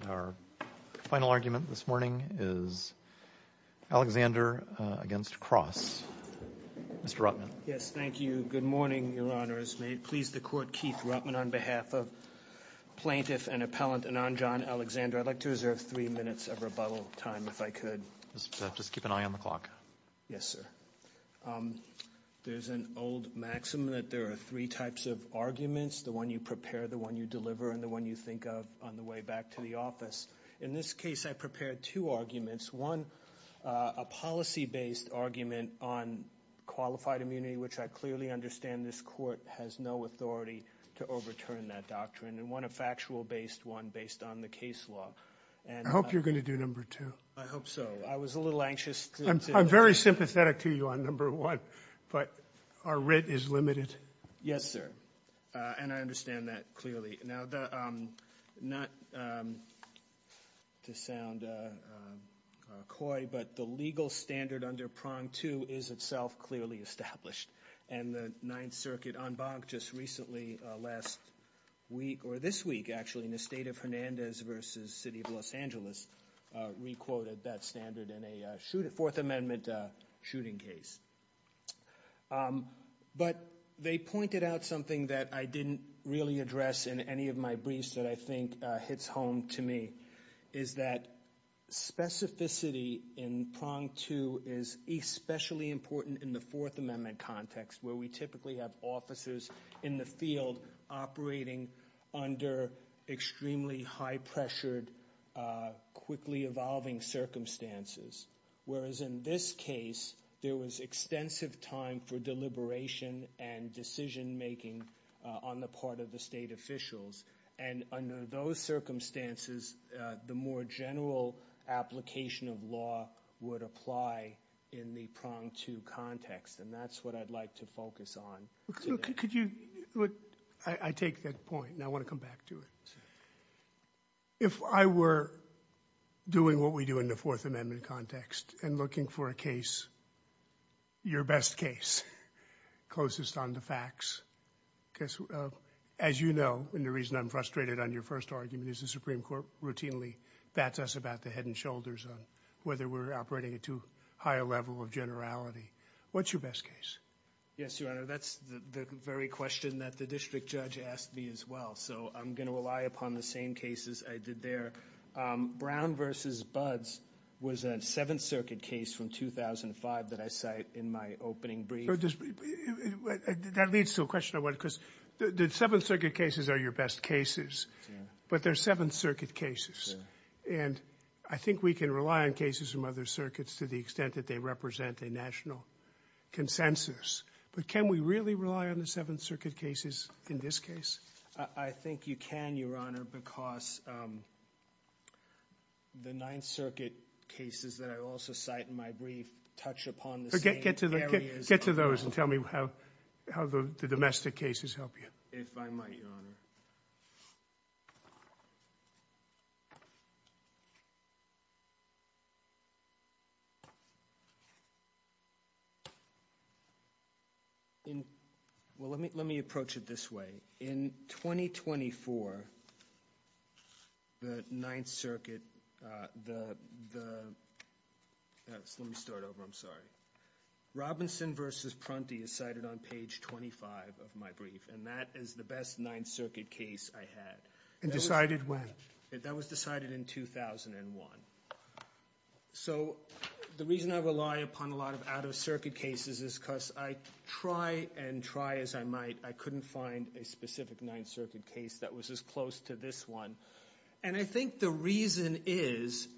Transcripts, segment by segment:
And our final argument this morning is Alexander v. Cross. Mr. Rotman. Yes, thank you. Good morning, Your Honors. May it please the Court, Keith Rotman on behalf of Plaintiff and Appellant Ananjan Alexander, I'd like to reserve three minutes of rebuttal time, if I could. Just keep an eye on the clock. Yes, sir. There's an old maxim that there are three types of arguments, the one you prepare, the one you deliver, and the one you think of on the way back to the office. In this case, I prepared two arguments. One, a policy-based argument on qualified immunity, which I clearly understand this Court has no authority to overturn that doctrine. And one, a factual-based one based on the case law. I hope you're going to do number two. I hope so. I was a little anxious. I'm very sympathetic to you on number one, but our writ is limited. Yes, sir. And I understand that clearly. Now, not to sound coy, but the legal standard under prong two is itself clearly established. And the Ninth Circuit en banc just recently last week, or this week, actually, in the State of Hernandez v. City of Los Angeles, re-quoted that standard in a Fourth Amendment shooting case. But they pointed out something that I didn't really address in any of my briefs that I think hits home to me, is that specificity in prong two is especially important in the Fourth Amendment context, where we typically have officers in the field operating under extremely high-pressured, quickly-evolving circumstances. Whereas in this case, there was extensive time for deliberation and decision-making on the part of the state officials. And under those circumstances, the more general application of law would apply in the prong two context. And that's what I'd like to focus on today. Could you – I take that point, and I want to come back to it. If I were doing what we do in the Fourth Amendment context and looking for a case, your best case, closest on the facts, because, as you know, and the reason I'm frustrated on your first argument is the Supreme Court routinely bats us about the head and shoulders on whether we're operating at too high a level of generality, what's your best case? Yes, Your Honor, that's the very question that the district judge asked me as well. So I'm going to rely upon the same cases I did there. Brown v. Buds was a Seventh Circuit case from 2005 that I cite in my opening brief. That leads to a question I want to – because the Seventh Circuit cases are your best cases, but they're Seventh Circuit cases. And I think we can rely on cases from other circuits to the extent that they represent a national consensus. But can we really rely on the Seventh Circuit cases in this case? I think you can, Your Honor, because the Ninth Circuit cases that I also cite in my brief touch upon the same areas. Get to those and tell me how the domestic cases help you. If I might, Your Honor. Well, let me approach it this way. In 2024, the Ninth Circuit – let me start over, I'm sorry. Robinson v. Prunty is cited on page 25 of my brief, and that is the best Ninth Circuit case I had. And decided when? That was decided in 2001. So the reason I rely upon a lot of out-of-circuit cases is because I try and try as I might, I couldn't find a specific Ninth Circuit case that was as close to this one. And I think the reason is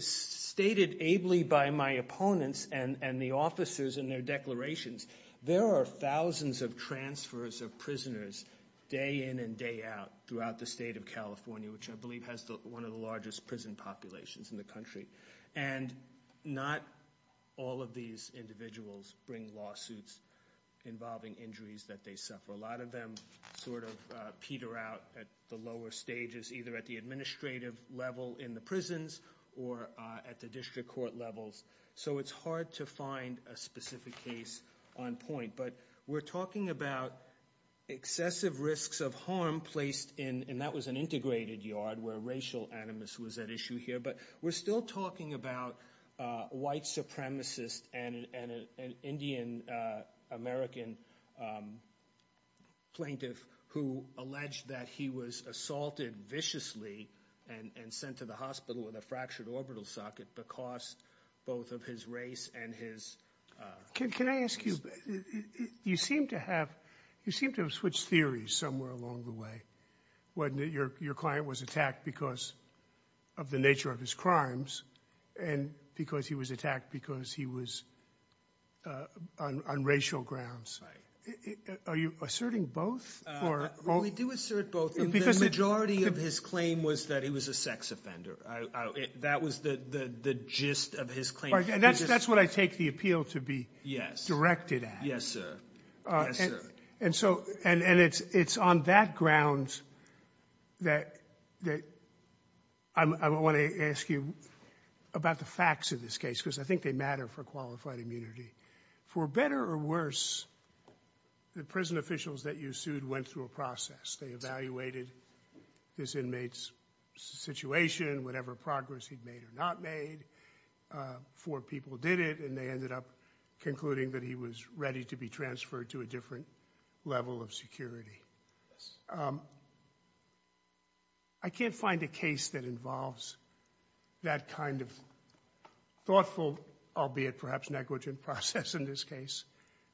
stated ably by my opponents and the officers in their declarations. There are thousands of transfers of prisoners day in and day out throughout the state of California, which I believe has one of the largest prison populations in the country. And not all of these individuals bring lawsuits involving injuries that they suffer. A lot of them sort of peter out at the lower stages, either at the administrative level in the prisons or at the district court levels. So it's hard to find a specific case on point. But we're talking about excessive risks of harm placed in – and that was an integrated yard where racial animus was at issue here. But we're still talking about a white supremacist and an Indian-American plaintiff who alleged that he was assaulted viciously and sent to the hospital with a fractured orbital socket because both of his race and his race. Can I ask you, you seem to have switched theories somewhere along the way, wasn't it? Your client was attacked because of the nature of his crimes and because he was attacked because he was on racial grounds. Are you asserting both? We do assert both. The majority of his claim was that he was a sex offender. That was the gist of his claim. And that's what I take the appeal to be directed at. Yes, sir. And so – and it's on that grounds that I want to ask you about the facts of this case because I think they matter for qualified immunity. For better or worse, the prison officials that you sued went through a process. They evaluated this inmate's situation, whatever progress he'd made or not made. Four people did it, and they ended up concluding that he was ready to be transferred to a different level of security. I can't find a case that involves that kind of thoughtful, albeit perhaps negligent process in this case.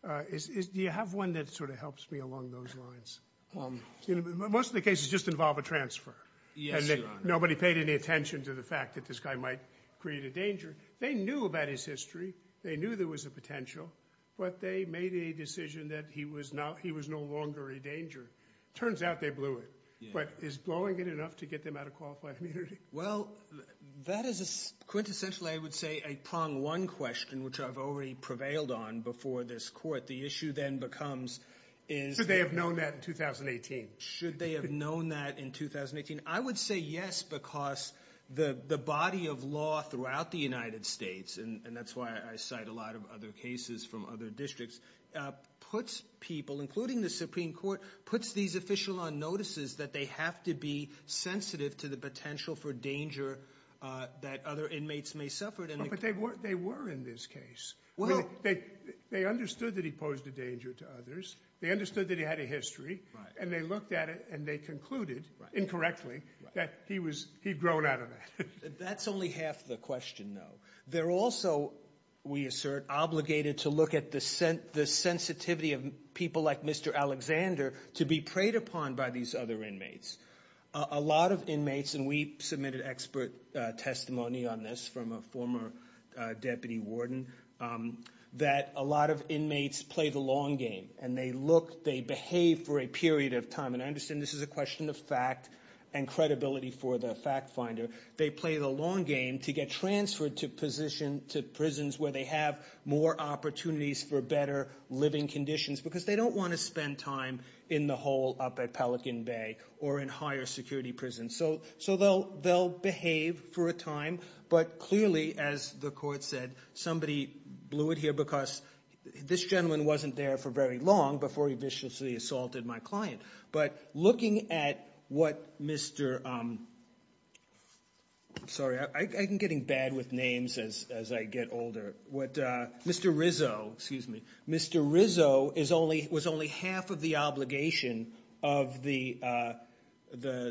Do you have one that sort of helps me along those lines? Most of the cases just involve a transfer. Yes, Your Honor. Nobody paid any attention to the fact that this guy might create a danger. They knew about his history. They knew there was a potential. But they made a decision that he was no longer a danger. Turns out they blew it. But is blowing it enough to get them out of qualified immunity? Well, that is quintessentially, I would say, a prong one question, which I've already prevailed on before this court. The issue then becomes is – Should they have known that in 2018? Should they have known that in 2018? I would say yes because the body of law throughout the United States, and that's why I cite a lot of other cases from other districts, puts people, including the Supreme Court, puts these official on notices that they have to be sensitive to the potential for danger that other inmates may suffer. But they were in this case. They understood that he posed a danger to others. They understood that he had a history. And they looked at it and they concluded, incorrectly, that he'd grown out of it. That's only half the question, though. They're also, we assert, obligated to look at the sensitivity of people like Mr. Alexander to be preyed upon by these other inmates. A lot of inmates, and we submitted expert testimony on this from a former deputy warden, that a lot of inmates play the long game and they behave for a period of time. And I understand this is a question of fact and credibility for the fact finder. They play the long game to get transferred to prisons where they have more opportunities for better living conditions because they don't want to spend time in the hole up at Pelican Bay or in higher security prisons. So they'll behave for a time, but clearly, as the court said, somebody blew it here because this gentleman wasn't there for very long before he viciously assaulted my client. But looking at what Mr. Sorry, I'm getting bad with names as I get older. Mr. Rizzo, excuse me. Mr. Rizzo was only half of the obligation of the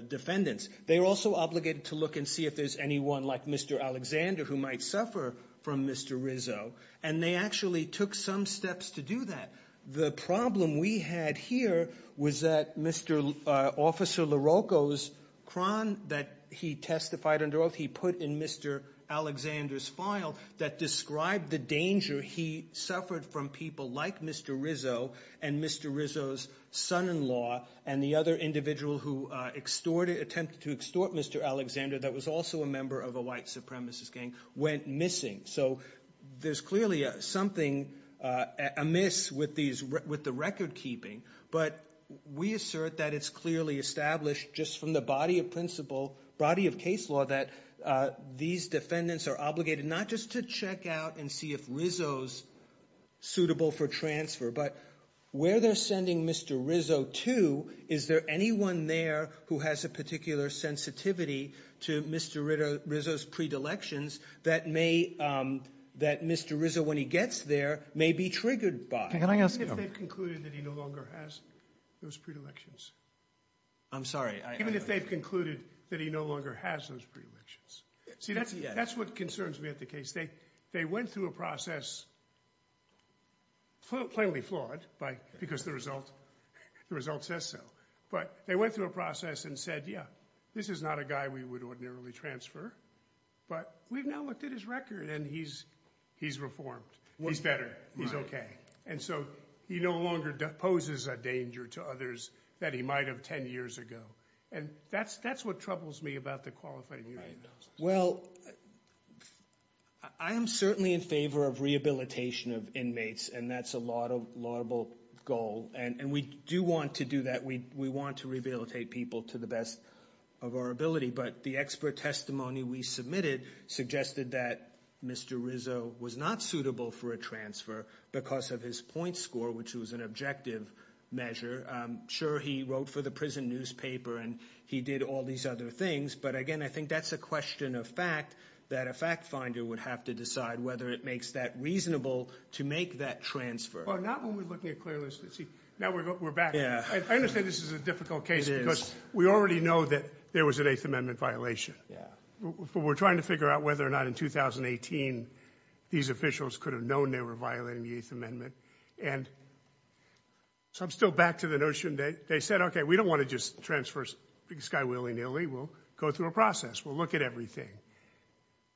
defendants. They were also obligated to look and see if there's anyone like Mr. Alexander who might suffer from Mr. Rizzo. And they actually took some steps to do that. The problem we had here was that Mr. Officer LaRocco's crown that he testified under oath he put in Mr. Alexander's file that described the danger he suffered from people like Mr. Rizzo and Mr. Rizzo's son-in-law and the other individual who attempted to extort Mr. Alexander that was also a member of a white supremacist gang went missing. So there's clearly something amiss with the record keeping, but we assert that it's clearly established just from the body of principle, body of case law, that these defendants are obligated not just to check out and see if Rizzo's suitable for transfer, but where they're sending Mr. Rizzo to, is there anyone there who has a particular sensitivity to Mr. Rizzo's predilections that may, that Mr. Rizzo when he gets there may be triggered by? Can I ask you? Even if they've concluded that he no longer has those predilections. I'm sorry. Even if they've concluded that he no longer has those predilections. See, that's what concerns me at the case. They went through a process, plainly flawed because the result says so, but they went through a process and said, yeah, this is not a guy we would ordinarily transfer, but we've now looked at his record and he's reformed. He's better. He's okay. And so he no longer poses a danger to others that he might have 10 years ago. And that's what troubles me about the qualifying hearing process. Well, I am certainly in favor of rehabilitation of inmates, and that's a laudable goal, and we do want to do that. We want to rehabilitate people to the best of our ability, but the expert testimony we submitted suggested that Mr. Rizzo was not suitable for a transfer because of his point score, which was an objective measure. Sure, he wrote for the prison newspaper and he did all these other things, but, again, I think that's a question of fact, that a fact finder would have to decide whether it makes that reasonable to make that transfer. Well, not when we're looking at clear lists. Now we're back. I understand this is a difficult case because we already know that there was an Eighth Amendment violation. We're trying to figure out whether or not in 2018 these officials could have known they were violating the Eighth Amendment. And so I'm still back to the notion that they said, okay, we don't want to just transfer this guy willy-nilly. We'll go through a process. We'll look at everything.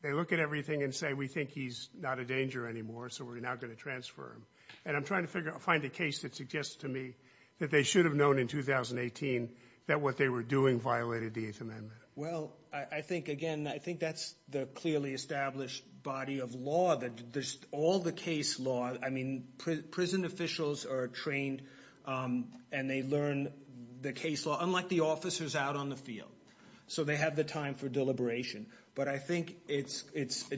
They look at everything and say, we think he's not a danger anymore, so we're now going to transfer him. And I'm trying to find a case that suggests to me that they should have known in 2018 that what they were doing violated the Eighth Amendment. Well, I think, again, I think that's the clearly established body of law that there's all the case law. I mean, prison officials are trained and they learn the case law, unlike the officers out on the field. So they have the time for deliberation. But I think it's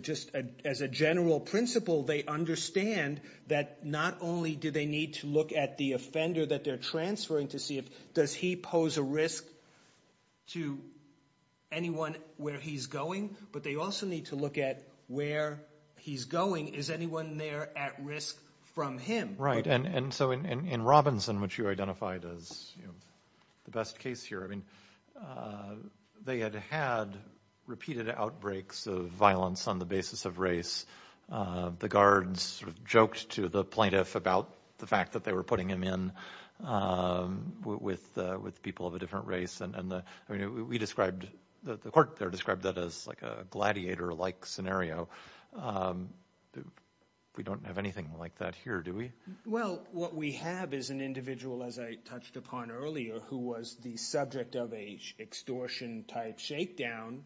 just as a general principle they understand that not only do they need to look at the offender that they're transferring to see if, does he pose a risk to anyone where he's going, but they also need to look at where he's going. Is anyone there at risk from him? And so in Robinson, which you identified as the best case here, I mean, they had had repeated outbreaks of violence on the basis of race. The guards sort of joked to the plaintiff about the fact that they were putting him in with people of a different race. And we described the court there described that as like a gladiator like scenario. We don't have anything like that here, do we? Well, what we have is an individual, as I touched upon earlier, who was the subject of a extortion type shakedown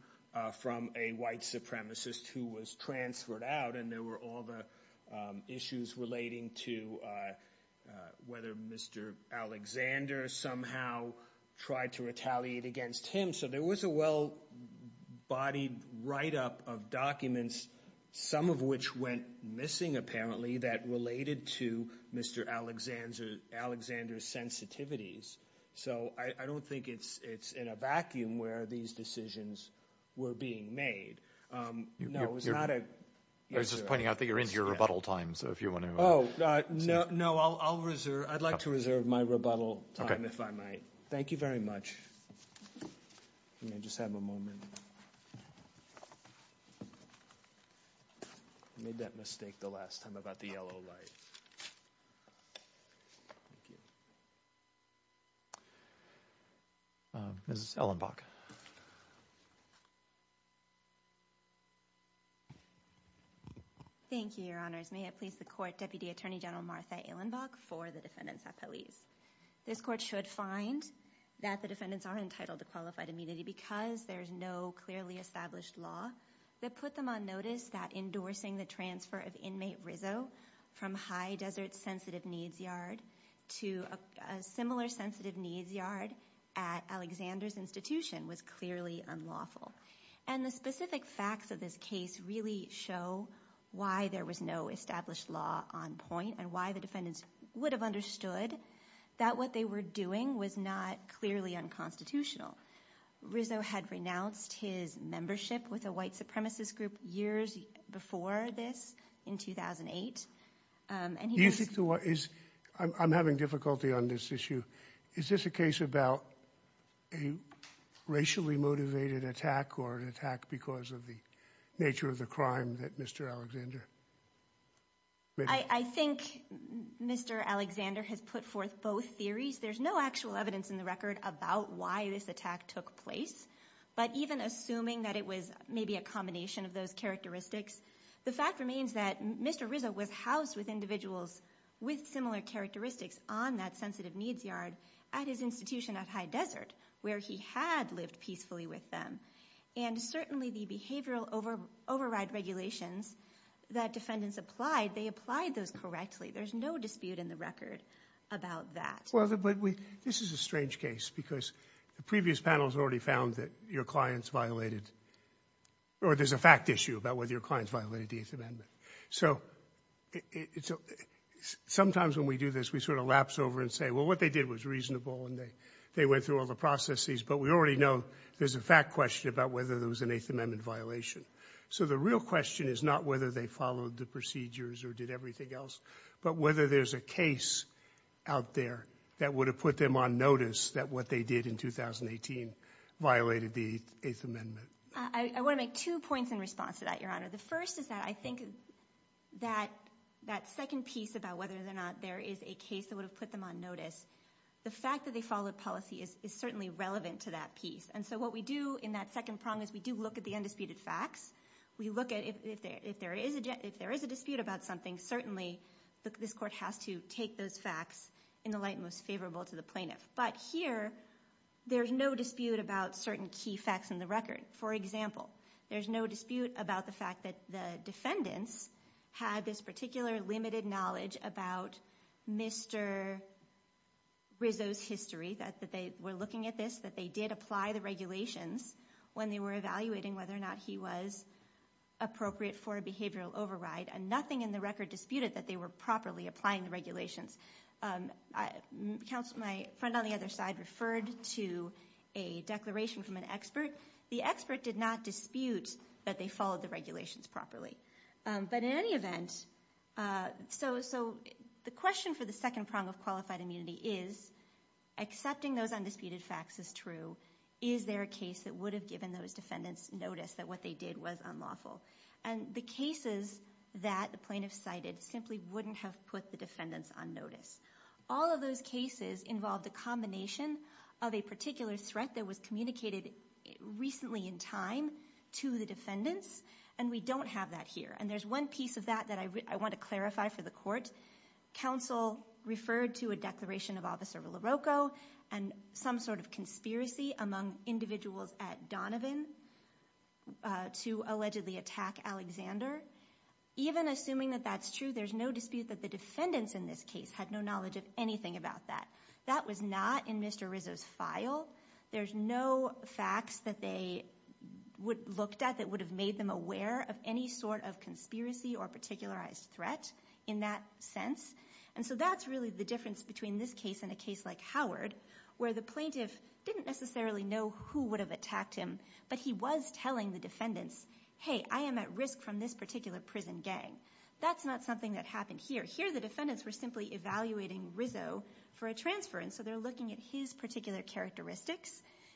from a white supremacist who was transferred out. And there were all the issues relating to whether Mr. Alexander somehow tried to retaliate against him. So there was a well-bodied write-up of documents, some of which went missing apparently, that related to Mr. Alexander's sensitivities. So I don't think it's in a vacuum where these decisions were being made. No, it's not a. I was just pointing out that you're into your rebuttal time. So if you want to. Oh, no, no. I'll reserve. I'd like to reserve my rebuttal time if I might. Thank you very much. Let me just have a moment. I made that mistake the last time about the yellow light. Mrs. Ellenbach. Thank you, Your Honors. May it please the court, Deputy Attorney General Martha Ellenbach for the defendants at police. This court should find that the defendants are entitled to qualified immunity because there is no clearly established law that put them on notice that endorsing the transfer of inmate Rizzo from High Desert Sensitive Needs Yard to a similar sensitive needs yard at Alexander's institution was clearly unlawful. And the specific facts of this case really show why there was no established law on point and why the defendants would have understood that what they were doing was not clearly unconstitutional. Rizzo had renounced his membership with a white supremacist group years before this in 2008. I'm having difficulty on this issue. Is this a case about a racially motivated attack or an attack because of the nature of the crime that Mr. Alexander? I think Mr. Alexander has put forth both theories. There's no actual evidence in the record about why this attack took place. But even assuming that it was maybe a combination of those characteristics, the fact remains that Mr. Rizzo was housed with individuals with similar characteristics on that sensitive needs yard at his institution at High Desert where he had lived peacefully with them. And certainly the behavioral override regulations that defendants applied, they applied those correctly. There's no dispute in the record about that. Well, this is a strange case because the previous panels already found that your clients violated or there's a fact issue about whether your clients violated the Eighth Amendment. So sometimes when we do this, we sort of lapse over and say, well, what they did was reasonable and they went through all the processes. But we already know there's a fact question about whether there was an Eighth Amendment violation. So the real question is not whether they followed the procedures or did everything else, but whether there's a case out there that would have put them on notice that what they did in 2018 violated the Eighth Amendment. I want to make two points in response to that, Your Honor. The first is that I think that that second piece about whether or not there is a case that would have put them on notice, the fact that they followed policy is certainly relevant to that piece. And so what we do in that second prong is we do look at the undisputed facts. We look at if there is a dispute about something, certainly this court has to take those facts in the light most favorable to the plaintiff. But here there's no dispute about certain key facts in the record. For example, there's no dispute about the fact that the defendants had this particular limited knowledge about Mr. Rizzo's history, that they were looking at this, that they did apply the regulations when they were evaluating whether or not he was appropriate for a behavioral override. And nothing in the record disputed that they were properly applying the regulations. My friend on the other side referred to a declaration from an expert. The expert did not dispute that they followed the regulations properly. But in any event, so the question for the second prong of qualified immunity is accepting those undisputed facts is true. Is there a case that would have given those defendants notice that what they did was unlawful? And the cases that the plaintiff cited simply wouldn't have put the defendants on notice. All of those cases involved a combination of a particular threat that was communicated recently in time to the defendants. And we don't have that here. And there's one piece of that that I want to clarify for the court. Counsel referred to a declaration of Officer LaRocco and some sort of conspiracy among individuals at Donovan to allegedly attack Alexander. Even assuming that that's true, there's no dispute that the defendants in this case had no knowledge of anything about that. That was not in Mr. Rizzo's file. There's no facts that they looked at that would have made them aware of any sort of conspiracy or particularized threat in that sense. And so that's really the difference between this case and a case like Howard where the plaintiff didn't necessarily know who would have attacked him. But he was telling the defendants, hey, I am at risk from this particular prison gang. That's not something that happened here. Here the defendants were simply evaluating Rizzo for a transfer. And so they're looking at his particular characteristics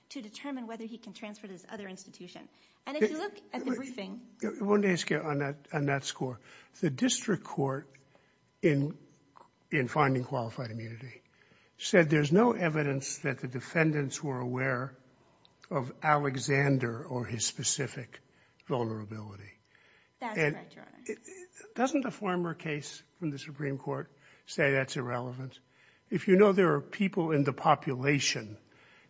to determine whether he can transfer to this other institution. And if you look at the briefing. I want to ask you on that score. The district court in finding qualified immunity said there's no evidence that the defendants were aware of Alexander or his specific vulnerability. That's correct, Your Honor. Doesn't a former case from the Supreme Court say that's irrelevant? If you know there are people in the population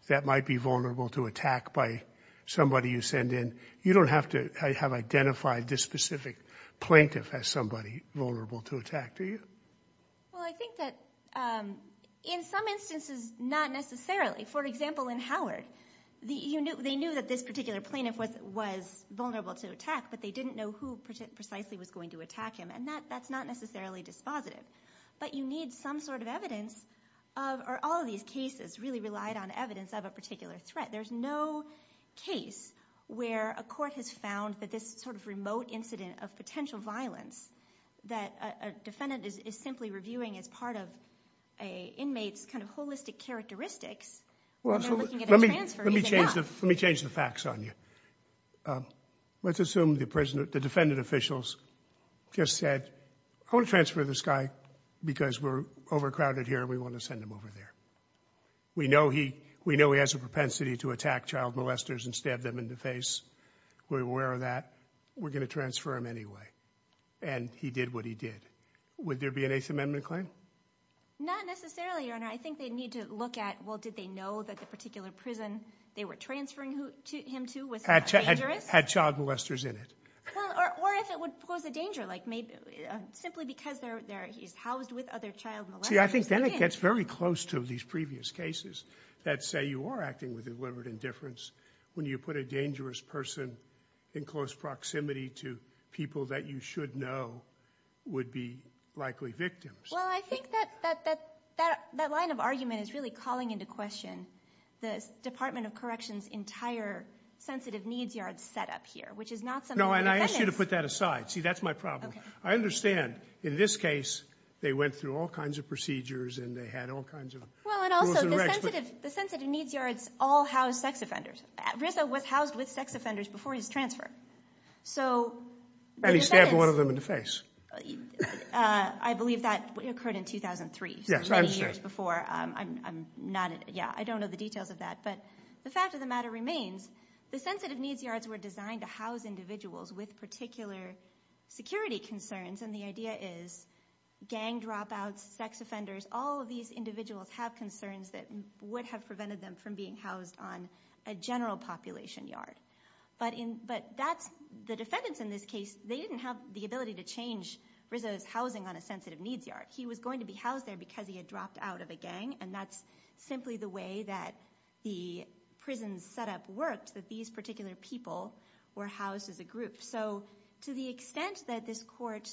that might be vulnerable to attack by somebody you send in, you don't have to have identified this specific plaintiff as somebody vulnerable to attack, do you? Well, I think that in some instances not necessarily. For example, in Howard, they knew that this particular plaintiff was vulnerable to attack, but they didn't know who precisely was going to attack him. And that's not necessarily dispositive. But you need some sort of evidence or all of these cases really relied on evidence of a particular threat. There's no case where a court has found that this sort of remote incident of potential violence, that a defendant is simply reviewing as part of an inmate's kind of holistic characteristics. Let me change the facts on you. Let's assume the defendant officials just said, I want to transfer this guy because we're overcrowded here and we want to send him over there. We know he has a propensity to attack child molesters and stab them in the face. We're aware of that. We're going to transfer him anyway. And he did what he did. Would there be an Eighth Amendment claim? Not necessarily, Your Honor. I think they need to look at, well, did they know that the particular prison they were transferring him to was dangerous? Had child molesters in it. Or if it would pose a danger, like maybe simply because he's housed with other child molesters. See, I think then it gets very close to these previous cases that say you are acting with deliberate indifference when you put a dangerous person in close proximity to people that you should know would be likely victims. Well, I think that that line of argument is really calling into question the Department of Corrections' entire sensitive needs yard set up here, which is not something the defendants. No, and I ask you to put that aside. See, that's my problem. I understand in this case they went through all kinds of procedures and they had all kinds of rules and regs. Well, and also the sensitive needs yards all house sex offenders. Rizzo was housed with sex offenders before his transfer. So the defendants. And he stabbed one of them in the face. I believe that occurred in 2003, so many years before. Yeah, I don't know the details of that. But the fact of the matter remains, the sensitive needs yards were designed to house individuals with particular security concerns, and the idea is gang dropouts, sex offenders, all of these individuals have concerns that would have prevented them from being housed on a general population yard. But the defendants in this case, they didn't have the ability to change Rizzo's housing on a sensitive needs yard. He was going to be housed there because he had dropped out of a gang, and that's simply the way that the prison setup worked, that these particular people were housed as a group. So to the extent that this court,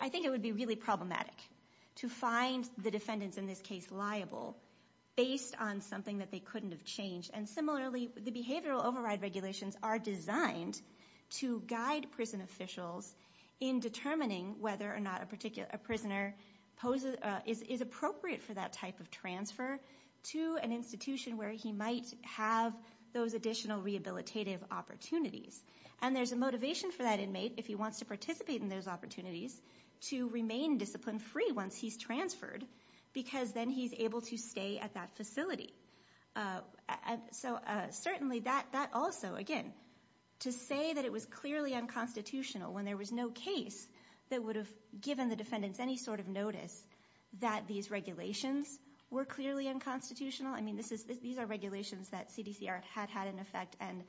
I think it would be really problematic to find the defendants in this case liable based on something that they couldn't have changed. And similarly, the behavioral override regulations are designed to guide prison officials in determining whether or not a prisoner is appropriate for that type of transfer to an institution where he might have those additional rehabilitative opportunities. And there's a motivation for that inmate, if he wants to participate in those opportunities, to remain discipline-free once he's transferred, because then he's able to stay at that facility. So certainly that also, again, to say that it was clearly unconstitutional when there was no case that would have given the defendants any sort of notice that these regulations were clearly unconstitutional, I mean, these are regulations that CDCR had had in effect and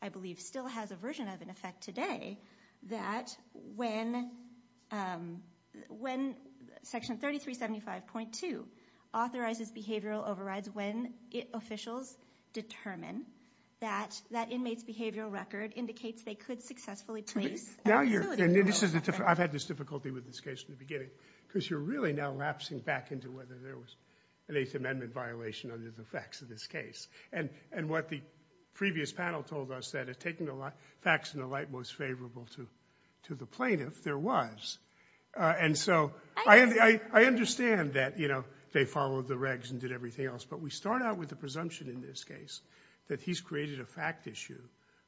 I believe still has a version of in effect today, that when Section 3375.2 authorizes behavioral overrides when officials determine that that inmate's behavioral record indicates they could successfully place at a facility. I've had this difficulty with this case from the beginning, because you're really now lapsing back into whether there was an Eighth Amendment violation under the facts of this case. And what the previous panel told us that, taking the facts in the light most favorable to the plaintiff, there was. And so I understand that they followed the regs and did everything else, but we start out with the presumption in this case that he's created a fact issue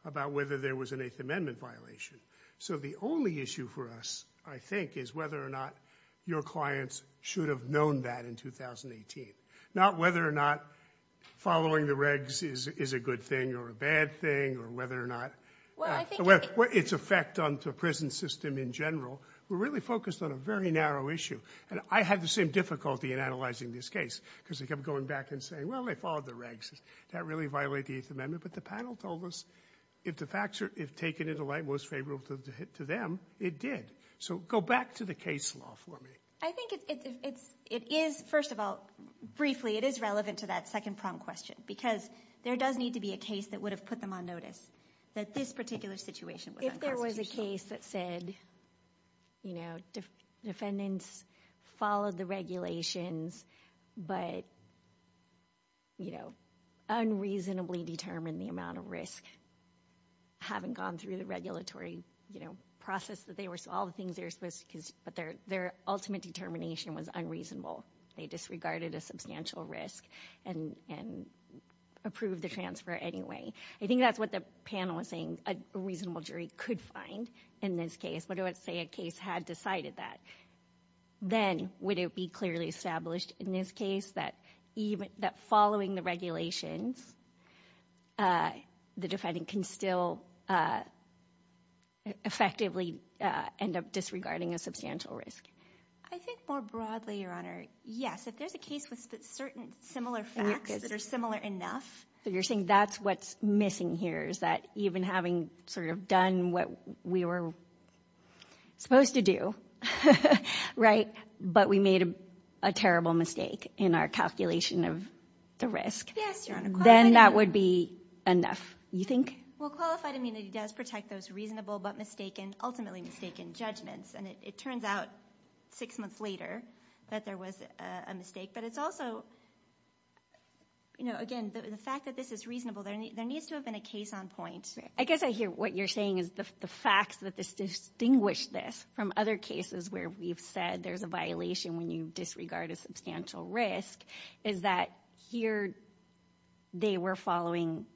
about whether there was an Eighth Amendment violation. So the only issue for us, I think, is whether or not your clients should have known that in 2018. Not whether or not following the regs is a good thing or a bad thing, or whether or not it's effect on the prison system in general. We're really focused on a very narrow issue. And I had the same difficulty in analyzing this case, because I kept going back and saying, well, they followed the regs. Did that really violate the Eighth Amendment? But the panel told us if the facts are taken into light most favorable to them, it did. So go back to the case law for me. I think it is, first of all, briefly, it is relevant to that second prompt question, because there does need to be a case that would have put them on notice that this particular situation was unconstitutional. If there was a case that said defendants followed the regulations, but unreasonably determined the amount of risk, having gone through the regulatory process, all the things they were supposed to, but their ultimate determination was unreasonable. They disregarded a substantial risk and approved the transfer anyway. I think that's what the panel was saying a reasonable jury could find in this case. But let's say a case had decided that. Then would it be clearly established in this case that following the regulations, the defendant can still effectively end up disregarding a substantial risk? I think more broadly, Your Honor, yes. If there's a case with certain similar facts that are similar enough. So you're saying that's what's missing here, is that even having sort of done what we were supposed to do, right, but we made a terrible mistake in our calculation of the risk. Yes, Your Honor. Then that would be enough, you think? Well, qualified immunity does protect those reasonable but mistaken, ultimately mistaken judgments. And it turns out six months later that there was a mistake. But it's also, you know, again, the fact that this is reasonable, there needs to have been a case on point. I guess I hear what you're saying is the facts that distinguish this from other cases where we've said there's a violation when you disregard a substantial risk is that here they were following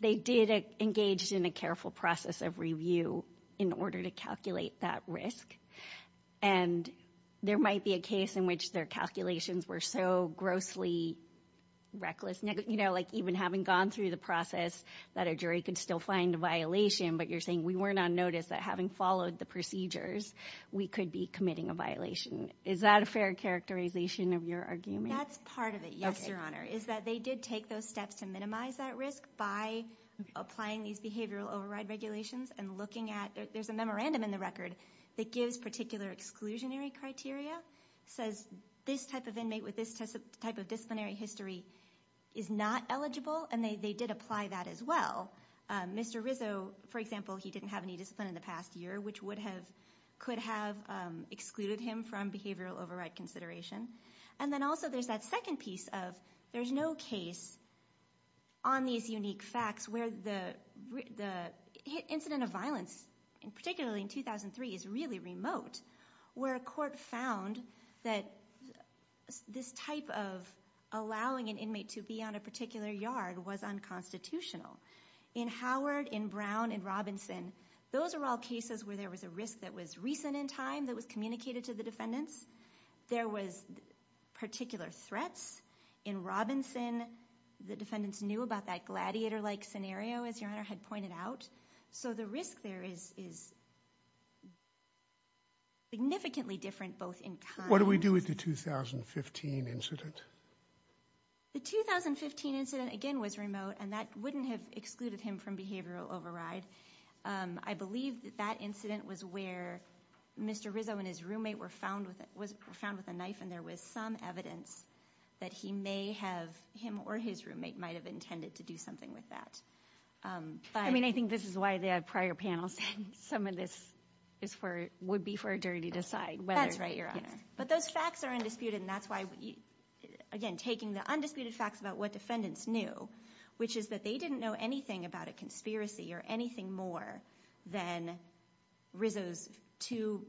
they did engage in a careful process of review in order to calculate that risk. And there might be a case in which their calculations were so grossly reckless, you know, like even having gone through the process, that a jury could still find a violation. But you're saying we weren't on notice that having followed the procedures, we could be committing a violation. Is that a fair characterization of your argument? That's part of it, yes, Your Honor, is that they did take those steps to minimize that risk by applying these behavioral override regulations and looking at there's a memorandum in the record that gives particular exclusionary criteria, says this type of inmate with this type of disciplinary history is not eligible, and they did apply that as well. Mr. Rizzo, for example, he didn't have any discipline in the past year, which could have excluded him from behavioral override consideration. And then also there's that second piece of there's no case on these unique facts where the incident of violence, particularly in 2003, is really remote, where a court found that this type of allowing an inmate to be on a particular yard was unconstitutional. In Howard, in Brown, in Robinson, those are all cases where there was a risk that was recent in time that was communicated to the defendants. There was particular threats. In Robinson, the defendants knew about that gladiator-like scenario, as Your Honor had pointed out. So the risk there is significantly different both in time. What do we do with the 2015 incident? The 2015 incident, again, was remote, and that wouldn't have excluded him from behavioral override. I believe that that incident was where Mr. Rizzo and his roommate were found with a knife, and there was some evidence that he may have, him or his roommate, might have intended to do something with that. I mean, I think this is why the prior panel said some of this would be for a jury to decide. That's right, Your Honor. But those facts are undisputed, and that's why, again, we're taking the undisputed facts about what defendants knew, which is that they didn't know anything about a conspiracy or anything more than Rizzo's two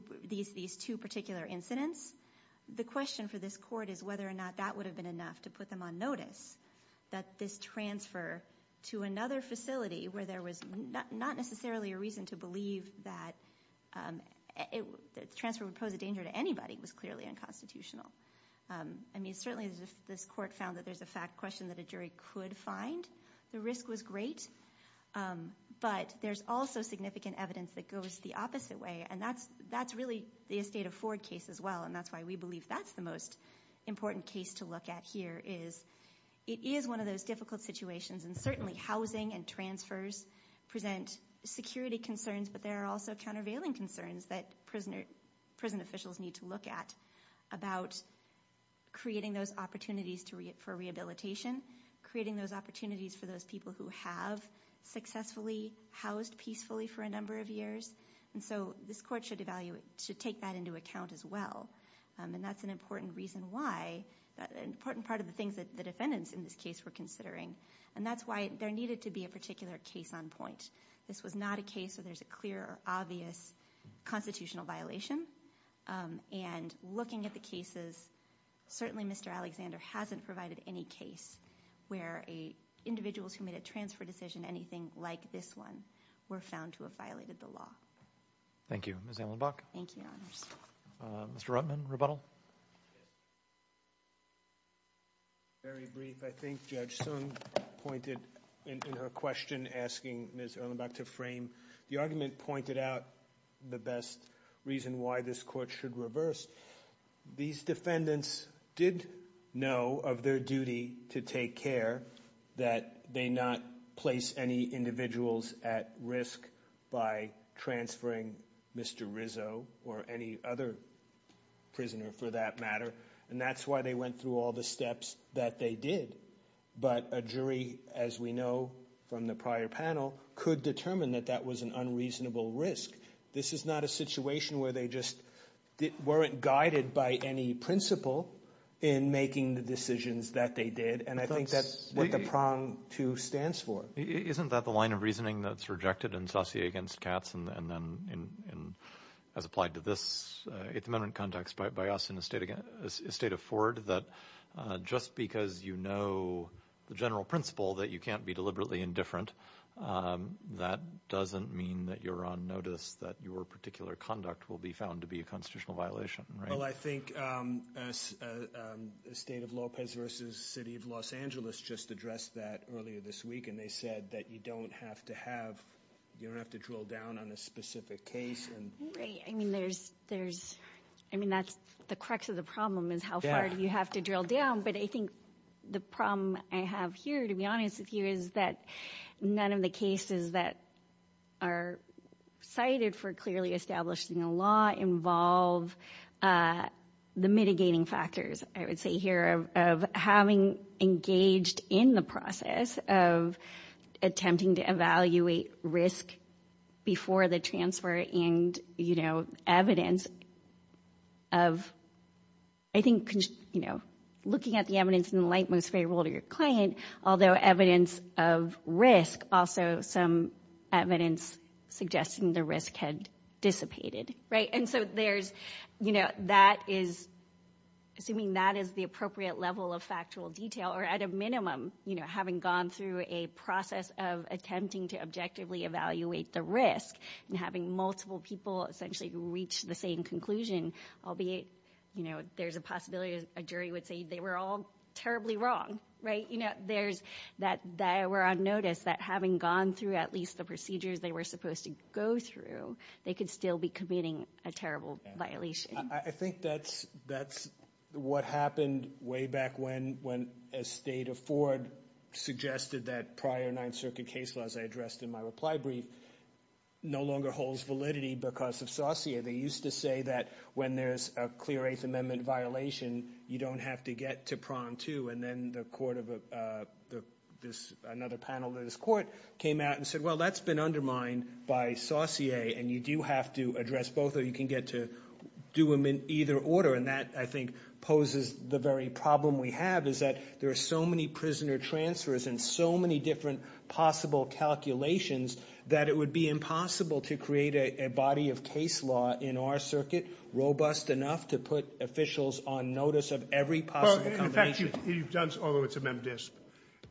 particular incidents. The question for this Court is whether or not that would have been enough to put them on notice, that this transfer to another facility where there was not necessarily a reason to believe that the transfer would pose a danger to anybody was clearly unconstitutional. I mean, certainly this Court found that there's a question that a jury could find. The risk was great, but there's also significant evidence that goes the opposite way, and that's really the Estate of Ford case as well, and that's why we believe that's the most important case to look at here is it is one of those difficult situations, and certainly housing and transfers present security concerns, but there are also countervailing concerns that prison officials need to look at about creating those opportunities for rehabilitation, creating those opportunities for those people who have successfully housed peacefully for a number of years, and so this Court should take that into account as well, and that's an important part of the things that the defendants in this case were considering, and that's why there needed to be a particular case on point. This was not a case where there's a clear or obvious constitutional violation, and looking at the cases, certainly Mr. Alexander hasn't provided any case where individuals who made a transfer decision, anything like this one, were found to have violated the law. Thank you. Ms. Ellenbach? Thank you, Your Honors. Mr. Ruttman, rebuttal? Very brief, I think. Judge Sung pointed in her question asking Ms. Ellenbach to frame. The argument pointed out the best reason why this Court should reverse. These defendants did know of their duty to take care that they not place any individuals at risk by transferring Mr. Rizzo or any other prisoner for that matter, and that's why they went through all the steps that they did. But a jury, as we know from the prior panel, could determine that that was an unreasonable risk. This is not a situation where they just weren't guided by any principle in making the decisions that they did, and I think that's what the prong to stands for. Isn't that the line of reasoning that's rejected in Saussure against Katz, and then as applied to this at the moment context by us in the State of Ford, that just because you know the general principle that you can't be deliberately indifferent, that doesn't mean that you're on notice that your particular conduct will be found to be a constitutional violation, right? Well, I think the State of Lopez versus the City of Los Angeles just addressed that earlier this week, and they said that you don't have to drill down on a specific case. Right. I mean, that's the crux of the problem is how far you have to drill down, but I think the problem I have here, to be honest with you, is that none of the cases that are cited for clearly establishing a law involve the mitigating factors, I would say here, of having engaged in the process of attempting to evaluate risk before the transfer, and evidence of, I think, looking at the evidence in the light most favorable to your client, although evidence of risk, also some evidence suggesting the risk had dissipated, right? And so there's, you know, that is, assuming that is the appropriate level of factual detail, or at a minimum, you know, having gone through a process of attempting to objectively evaluate the risk, and having multiple people essentially reach the same conclusion, albeit, you know, there's a possibility a jury would say they were all terribly wrong, right? You know, there's that they were on notice that having gone through at least the procedures they were supposed to go through, they could still be committing a terrible violation. I think that's what happened way back when, as State of Ford suggested, that prior Ninth Circuit case laws I addressed in my reply brief no longer holds validity because of Saussure. They used to say that when there's a clear Eighth Amendment violation, you don't have to get to prong two, and then the court of another panel of this court came out and said, well, that's been undermined by Saussure, and you do have to address both, or you can get to do them in either order, and that, I think, poses the very problem we have is that there are so many prisoner transfers and so many different possible calculations that it would be impossible to create a body of case law in our circuit robust enough to put officials on notice of every possible combination. In effect, you've done so, although it's a mem disp,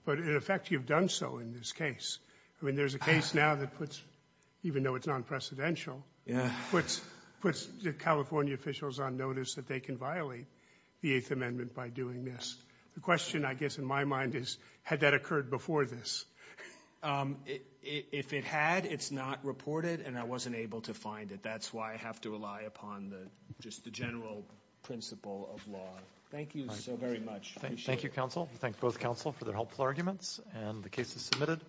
but in effect, you've done so in this case. I mean, there's a case now that puts, even though it's non-precedential, puts California officials on notice that they can violate the Eighth Amendment by doing this. The question, I guess, in my mind is, had that occurred before this? If it had, it's not reported, and I wasn't able to find it. That's why I have to rely upon just the general principle of law. Thank you so very much. Thank you, counsel. We thank both counsel for their helpful arguments, and the case is submitted,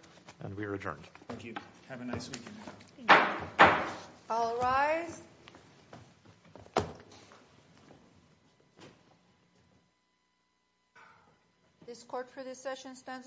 and we are adjourned. Thank you. Have a nice weekend. Thank you. All rise. This court for this session stands adjourned.